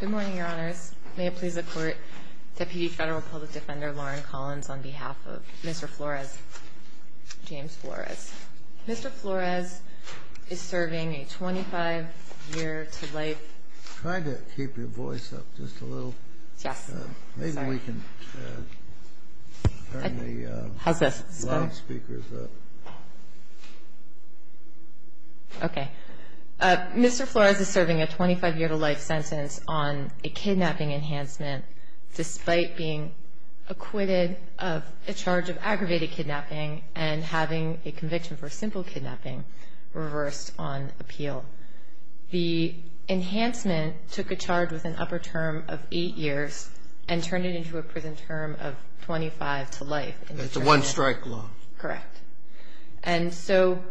Good morning, Your Honors. May it please the Court, Deputy Federal Public Defender Lauren Collins, on behalf of Mr. Flores, James Flores. Mr. Flores is serving a 25-year-to-life... Try to keep your voice up just a little. Yes. Sorry. Maybe we can turn the loudspeakers up. How's this? Okay. Mr. Flores is serving a 25-year-to-life sentence on a kidnapping enhancement despite being acquitted of a charge of aggravated kidnapping and having a conviction for simple kidnapping reversed on appeal. The enhancement took a charge with an upper term of 8 years and turned it into a prison term of 25 to life. It's a one-strike law. Correct. And so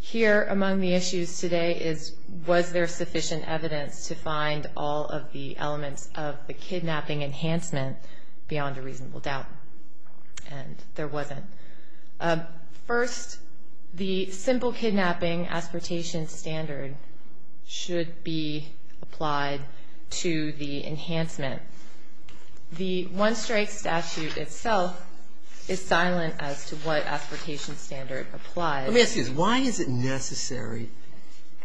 here among the issues today is was there sufficient evidence to find all of the elements of the kidnapping enhancement beyond a reasonable doubt? And there wasn't. First, the simple kidnapping aspertation standard should be applied to the enhancement. The one-strike statute itself is silent as to what aspertation standard applies. Let me ask you this. Why is it necessary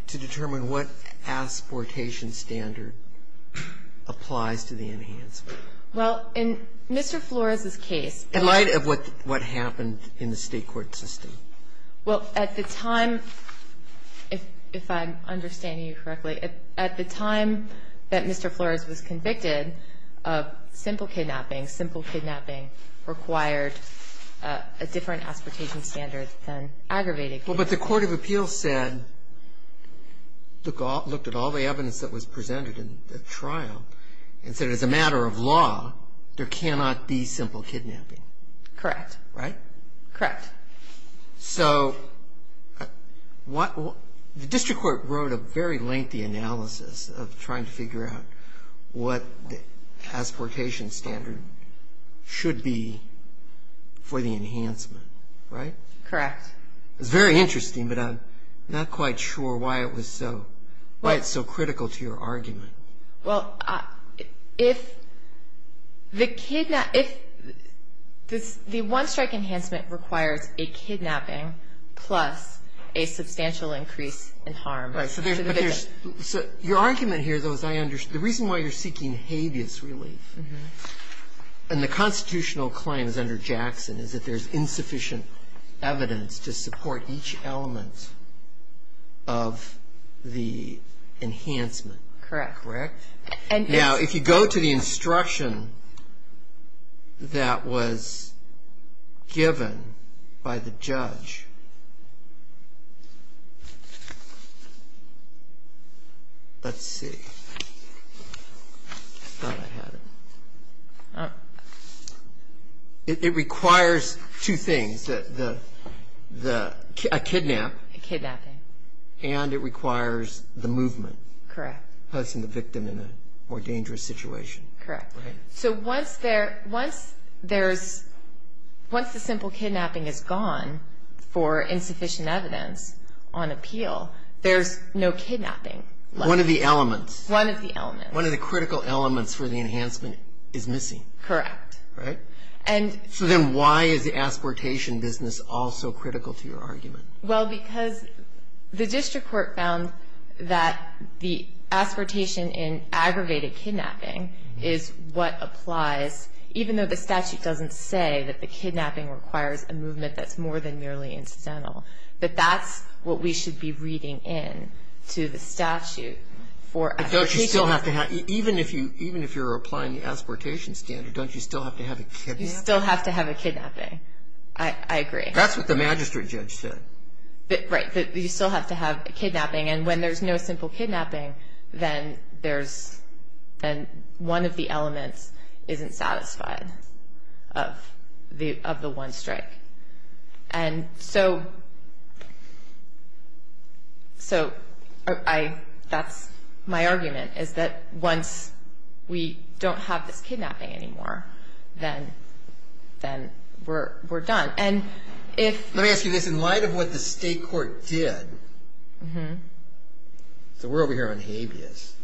to determine what aspertation standard applies to the enhancement? Well, in Mr. Flores' case... In light of what happened in the state court system. Well, at the time, if I'm understanding you correctly, at the time that Mr. Flores was convicted, simple kidnapping, simple kidnapping required a different aspertation standard than aggravated kidnapping. Well, but the court of appeals said, looked at all the evidence that was presented in the trial and said as a matter of law, there cannot be simple kidnapping. Correct. Right? Correct. So the district court wrote a very lengthy analysis of trying to figure out what the aspertation standard should be for the enhancement, right? Correct. It's very interesting, but I'm not quite sure why it's so critical to your argument. Well, if the one-strike enhancement requires a kidnapping plus a substantial increase in harm to the victim. Right. So your argument here, though, is I understand. The reason why you're seeking habeas relief and the constitutional claims under Jackson is that there's insufficient evidence to support each element of the enhancement. Correct. Correct? Now, if you go to the instruction that was given by the judge, let's see. I thought I had it. It requires two things, a kidnap. A kidnapping. And it requires the movement. Correct. Placing the victim in a more dangerous situation. Correct. Right? So once the simple kidnapping is gone for insufficient evidence on appeal, there's no kidnapping. One of the elements. One of the elements. One of the critical elements for the enhancement is missing. Correct. Right? So then why is the aspertation business all so critical to your argument? Well, because the district court found that the aspertation in aggravated kidnapping is what applies, even though the statute doesn't say that the kidnapping requires a movement that's more than merely incidental, that that's what we should be reading in to the statute for aspertation. But don't you still have to have, even if you're applying the aspertation standard, don't you still have to have a kidnapping? You still have to have a kidnapping. I agree. That's what the magistrate judge said. Right. You still have to have a kidnapping. And when there's no simple kidnapping, then one of the elements isn't satisfied of the one strike. And so that's my argument, is that once we don't have this kidnapping anymore, then we're done. Let me ask you this. In light of what the state court did, so we're over here on habeas.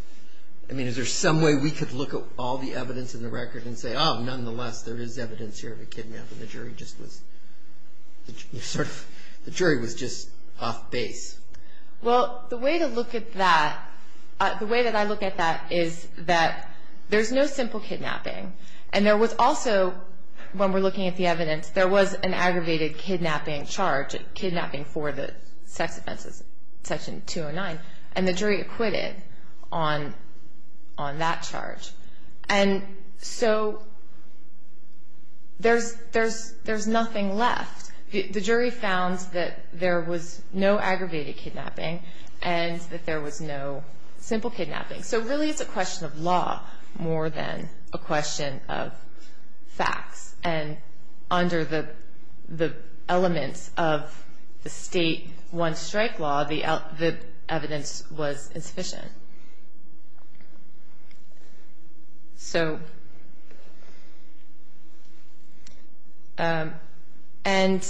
I mean, is there some way we could look at all the evidence in the record and say, oh, nonetheless, there is evidence here of a kidnapping. The jury was just off base. Well, the way to look at that, the way that I look at that is that there's no simple kidnapping. And there was also, when we're looking at the evidence, there was an aggravated kidnapping charge, kidnapping for the sex offenses, Section 209. And the jury acquitted on that charge. And so there's nothing left. The jury found that there was no aggravated kidnapping and that there was no simple kidnapping. So really it's a question of law more than a question of facts. And under the elements of the state one strike law, the evidence was insufficient. So and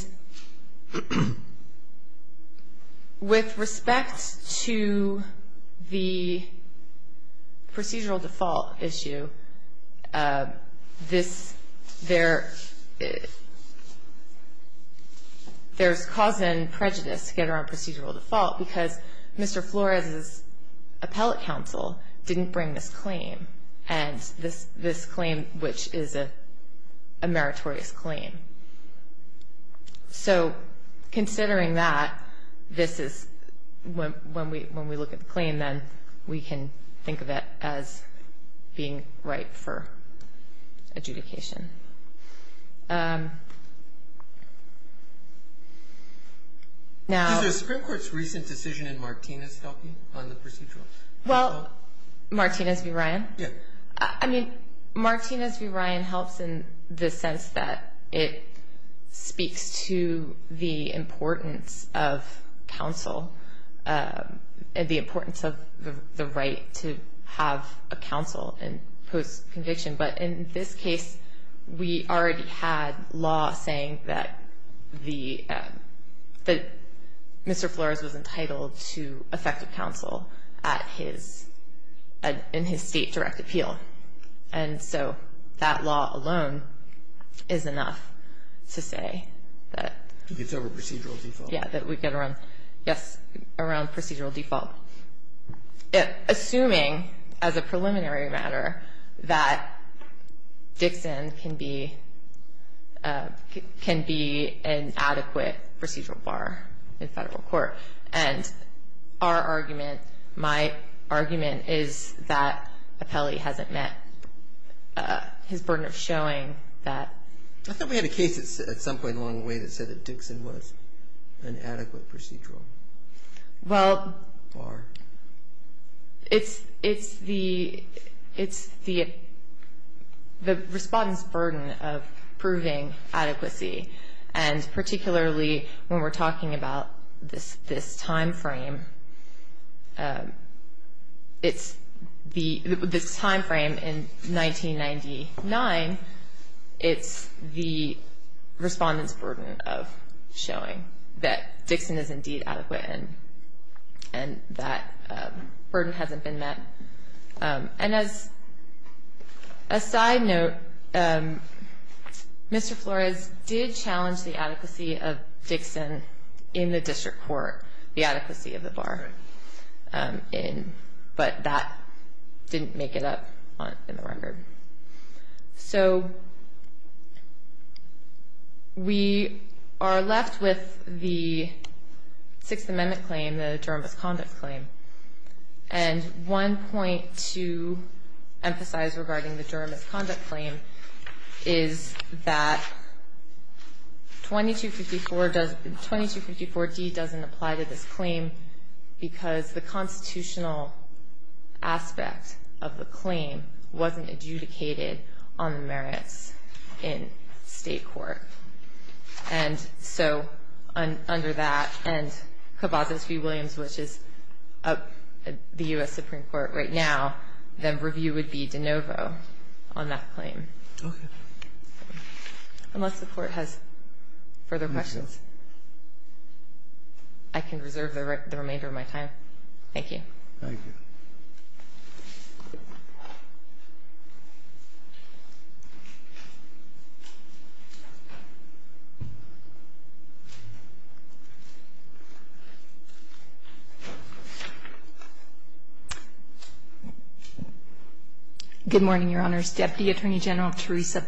with respect to the procedural default issue, this, there's cause and prejudice to get around procedural default because Mr. Flores' appellate counsel didn't bring this claim and this claim which is a meritorious claim. So considering that, this is, when we look at the claim, then we can think of it as being right for adjudication. Now... Is the Supreme Court's recent decision in Martinez helping on the procedural default? Well, Martinez v. Ryan? Yeah. I mean, Martinez v. Ryan helps in the sense that it speaks to the importance of counsel and the importance of the right to have a counsel in post-conviction. But in this case, we already had law saying that the, that Mr. Flores was entitled to effective counsel at his, in his state direct appeal. And so that law alone is enough to say that... He gets over procedural default. Yeah, that we get around, yes, around procedural default. And that Dixon can be, can be an adequate procedural bar in federal court. And our argument, my argument is that Apelli hasn't met his burden of showing that... I thought we had a case at some point along the way that said that Dixon was an adequate procedural... Well... Bar. It's, it's the, it's the, the respondent's burden of proving adequacy. And particularly when we're talking about this, this timeframe. It's the, this timeframe in 1999, it's the respondent's burden of showing that Dixon is indeed adequate. And, and that burden hasn't been met. And as a side note, Mr. Flores did challenge the adequacy of Dixon in the district court, the adequacy of the bar. But that didn't make it up in the record. So we are left with the Sixth Amendment claim, the Durham misconduct claim. And one point to emphasize regarding the Durham misconduct claim is that 2254 does, 2254D doesn't apply to this claim. Because the constitutional aspect of the claim wasn't adjudicated. It wasn't adjudicated on the merits in state court. And so under that, and Kavazos v. Williams, which is up at the U.S. Supreme Court right now, the review would be de novo on that claim. Unless the court has further questions. I can reserve the remainder of my time. Thank you. Good morning, Your Honors. Deputy Attorney General Teresa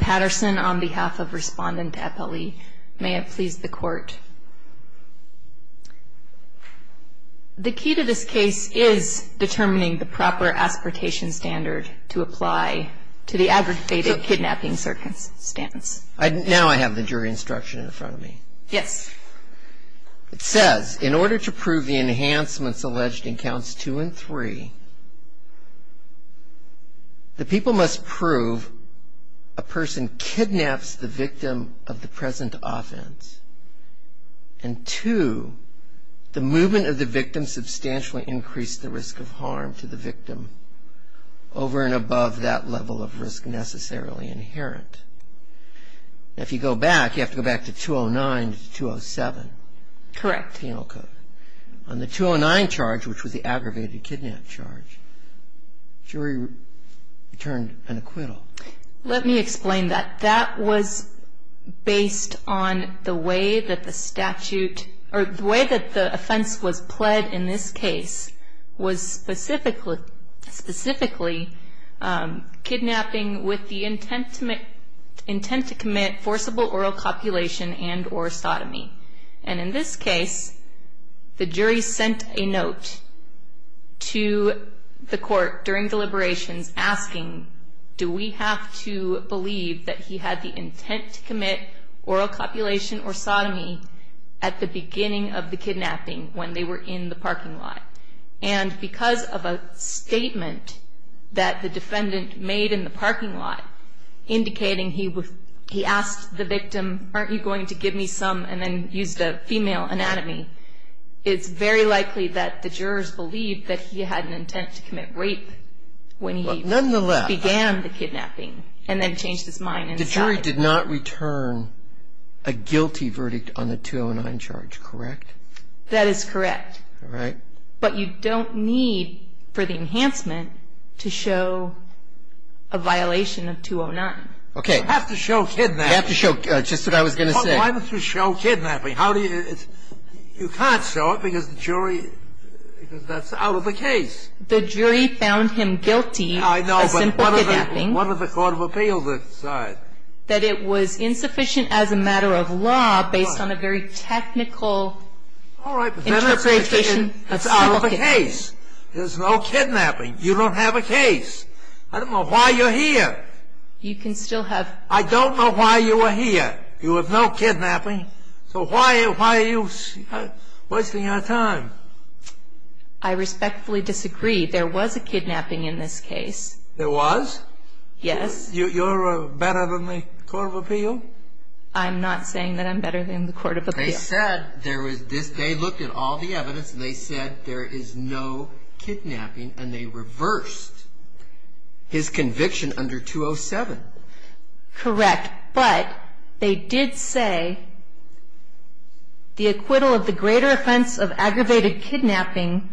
Patterson on behalf of Respondent Eppley. May it please the Court. The key to this case is determining the proper aspiratation standard to apply to the aggregated kidnapping circumstance. Now I have the jury instruction in front of me. Yes. It says, in order to prove the enhancements alleged in counts two and three, the people must prove a person kidnaps the victim of the present offense, and two, the movement of the victim substantially increased the risk of harm to the victim over and above that level of risk necessarily inherent. Now if you go back, you have to go back to 209 to 207. Correct. Penal code. On the 209 charge, which was the aggravated kidnap charge, jury returned an acquittal. Let me explain that. That was based on the way that the statute, or the way that the offense was pled in this case, was specifically kidnapping with the intent to commit forcible oral copulation and or sodomy. And in this case, the jury sent a note to the court during deliberations asking, do we have to believe that he had the intent to commit oral copulation or sodomy at the beginning of the kidnapping when they were in the parking lot? And because of a statement that the defendant made in the parking lot indicating he asked the victim, aren't you going to give me some, and then used a female anatomy, it's very likely that the jurors believed that he had an intent to commit rape when he began the kidnapping and then changed his mind. The jury did not return a guilty verdict on the 209 charge, correct? That is correct. But you don't need for the enhancement to show a violation of 209. You have to show kidnapping. That's just what I was going to say. Why don't you show kidnapping? You can't show it because the jury, because that's out of the case. The jury found him guilty of simple kidnapping. I know, but what did the court of appeals decide? That it was insufficient as a matter of law based on a very technical interpretation of simple kidnapping. It's out of the case. There's no kidnapping. You don't have a case. I don't know why you're here. I don't know why you are here. You have no kidnapping. So why are you wasting our time? I respectfully disagree. There was a kidnapping in this case. There was? Yes. You're better than the court of appeal? I'm not saying that I'm better than the court of appeal. They looked at all the evidence and they said there is no kidnapping and they reversed his conviction under 207. Correct. But they did say the acquittal of the greater offense of the aggravated kidnapping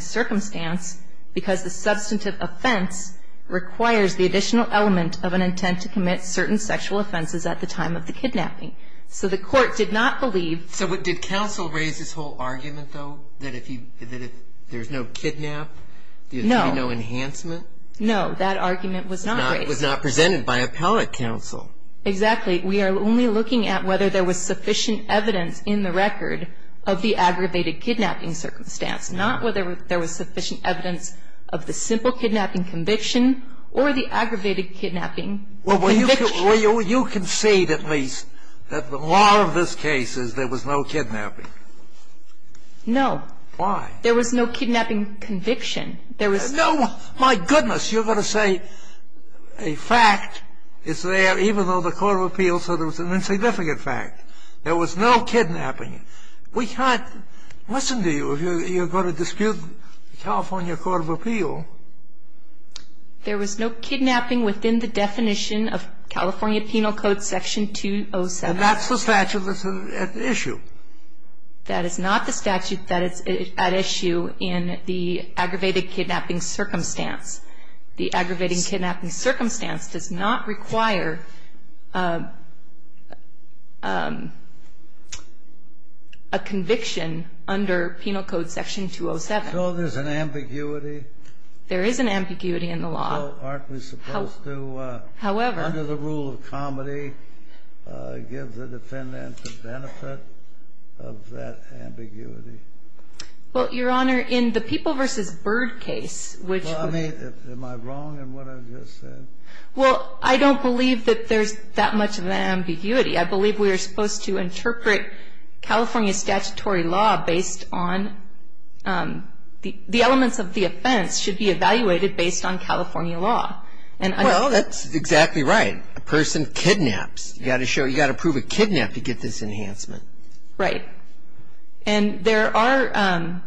circumstance because the substantive offense requires the additional element of an intent to commit certain sexual offenses at the time of the kidnapping. So the court did not believe. So did counsel raise this whole argument, though, that if there's no kidnap, there's no enhancement? No. That argument was not presented by appellate counsel. Exactly. We are only looking at whether there was sufficient evidence in the record of the aggravated kidnapping circumstance, not whether there was sufficient evidence of the simple kidnapping conviction or the aggravated kidnapping conviction. Well, you concede at least that the law of this case is there was no kidnapping. No. Why? There was no kidnapping conviction. No. My goodness. You're going to say a fact is there even though the court of appeal said it was an insignificant fact. There was no kidnapping. We can't listen to you if you're going to dispute the California Court of Appeal. There was no kidnapping within the definition of California Penal Code Section 207. And that's the statute that's at issue. That is not the statute that is at issue in the aggravated kidnapping circumstance. The aggravated kidnapping circumstance does not require a conviction under Penal Code Section 207. So there's an ambiguity? There is an ambiguity in the law. Aren't we supposed to, under the rule of comedy, give the defendant the benefit of that ambiguity? Well, Your Honor, in the People v. Bird case, which Well, I mean, am I wrong in what I've just said? Well, I don't believe that there's that much of an ambiguity. I believe we are supposed to interpret California statutory law based on the elements of the offense should be evaluated based on California law. Well, that's exactly right. A person kidnaps. You've got to prove a kidnap to get this enhancement. Right. And there are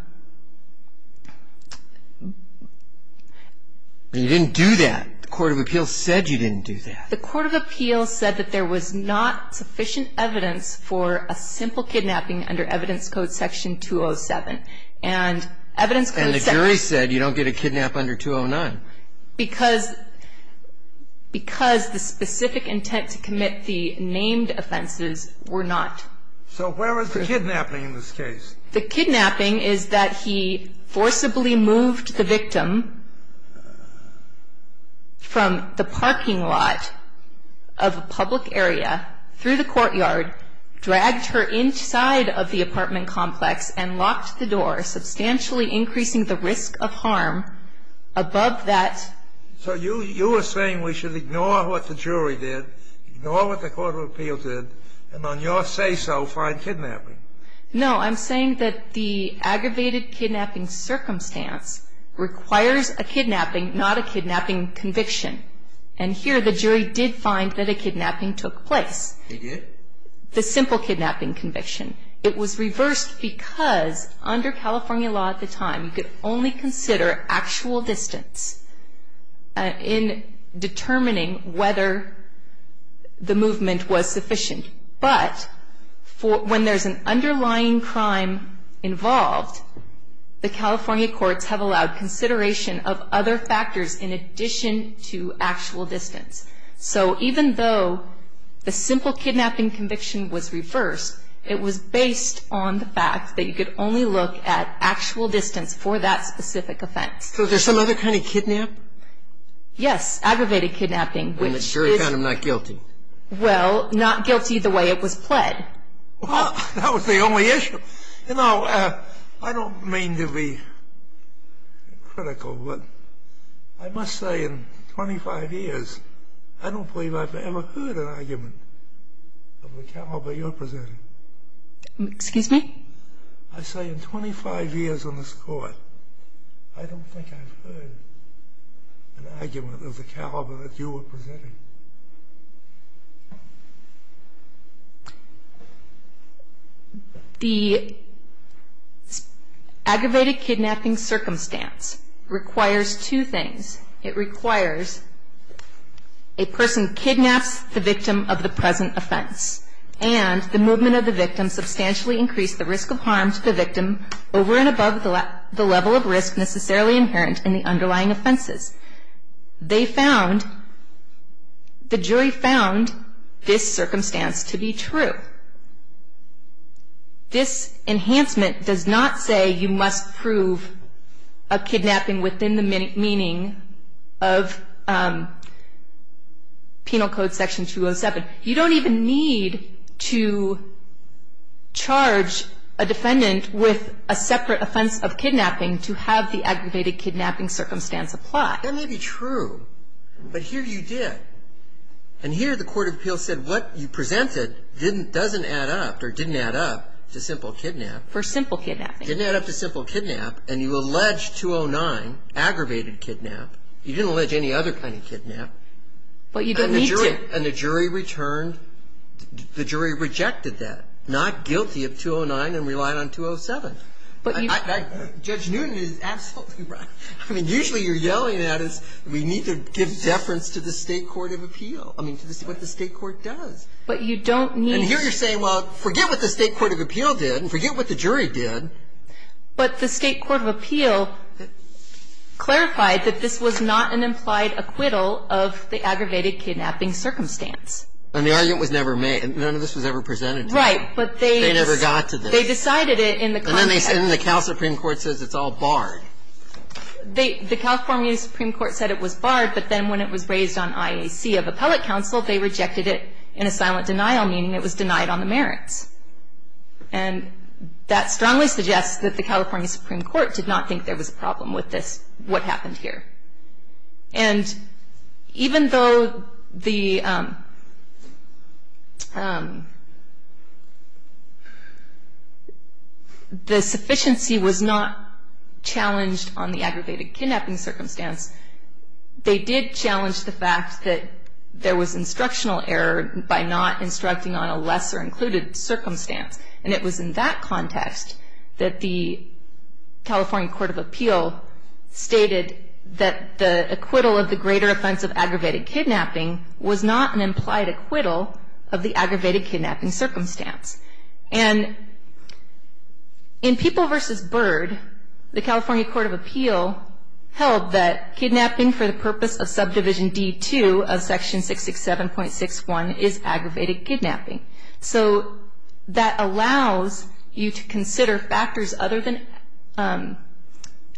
You didn't do that. The court of appeal said you didn't do that. The court of appeal said that there was not sufficient evidence for a simple kidnapping under evidence code section 207. And evidence code And the jury said you don't get a kidnap under 209. Because the specific intent to commit the named offenses were not. So where is the kidnapping in this case? The kidnapping is that he forcibly moved the victim from the parking lot of a public area through the courtyard, dragged her inside of the apartment complex and locked the door, substantially increasing the risk of harm above that. So you are saying we should ignore what the jury did, ignore what the court of appeal did, and on your say so, find kidnapping. No, I'm saying that the aggravated kidnapping circumstance requires a kidnapping, not a kidnapping conviction. And here the jury did find that a kidnapping took place. They did? The simple kidnapping conviction. It was reversed because under California law at the time, you could only consider actual distance in determining whether the movement was sufficient. But when there's an underlying crime involved, the California courts have allowed consideration of other factors in addition to actual distance. So even though the simple kidnapping conviction was reversed, it was based on the fact that you could only look at actual distance for that specific offense. So there's some other kind of kidnap? Yes, aggravated kidnapping. When the jury found him not guilty. Well, not guilty the way it was pled. Well, that was the only issue. You know, I don't mean to be critical, but I must say in 25 years, I don't believe I've ever heard an argument of the caliber you're presenting. Excuse me? I say in 25 years on this court, I don't think I've heard an argument of the caliber that you were presenting. The aggravated kidnapping circumstance requires two things. It requires a person kidnaps the victim of the present offense, and the movement of the victim substantially increased the risk of harm to the victim over and above the level of risk necessarily inherent in the underlying offenses. They found, the jury found this circumstance to be true. This enhancement does not say you must prove a kidnapping within the meaning of Penal Code Section 207. You don't even need to charge a defendant with a separate offense of kidnapping to have the aggravated kidnapping circumstance apply. That may be true, but here you did. And here the court of appeals said what you presented doesn't add up or didn't add up to simple kidnap. For simple kidnapping. Didn't add up to simple kidnap, and you allege 209, aggravated kidnap. You didn't allege any other kind of kidnap. But you don't need to. And the jury returned. The jury rejected that. Not guilty of 209 and relied on 207. Judge Newton is absolutely right. I mean, usually you're yelling at us. We need to give deference to the state court of appeal. I mean, to what the state court does. But you don't need. And here you're saying, well, forget what the state court of appeal did and forget what the jury did. But the state court of appeal clarified that this was not an implied acquittal of the aggravated kidnapping circumstance. And the argument was never made. None of this was ever presented to them. Right, but they. They never got to this. They decided it in the context. And then they said, and the Cal Supreme Court says it's all barred. The California Supreme Court said it was barred, but then when it was raised on IAC of appellate counsel, they rejected it in a silent denial, meaning it was denied on the merits. And that strongly suggests that the California Supreme Court did not think there was a problem with this, what happened here. And even though the sufficiency was not challenged on the aggravated kidnapping circumstance, they did challenge the fact that there was instructional error by not instructing on a lesser included circumstance. And it was in that context that the California Court of Appeal stated that the acquittal of the greater offense of aggravated kidnapping was not an implied acquittal of the aggravated kidnapping circumstance. And in People v. Bird, the California Court of Appeal held that kidnapping for the purpose of subdivision D2 of section 667.61 is aggravated kidnapping. So that allows you to consider factors other than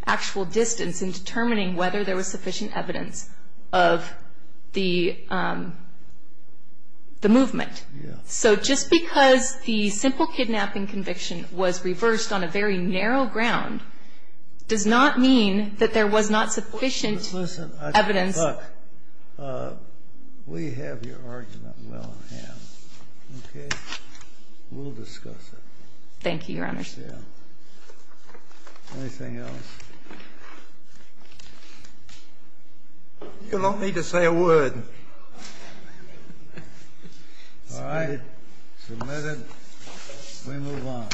actual distance in determining whether there was sufficient evidence of the movement. So just because the simple kidnapping conviction was reversed on a very narrow ground does not mean that there was not sufficient evidence. Look, we have your argument well in hand, okay? We'll discuss it. Thank you, Your Honor. Anything else? You don't need to say a word. All right. Submitted. We move on.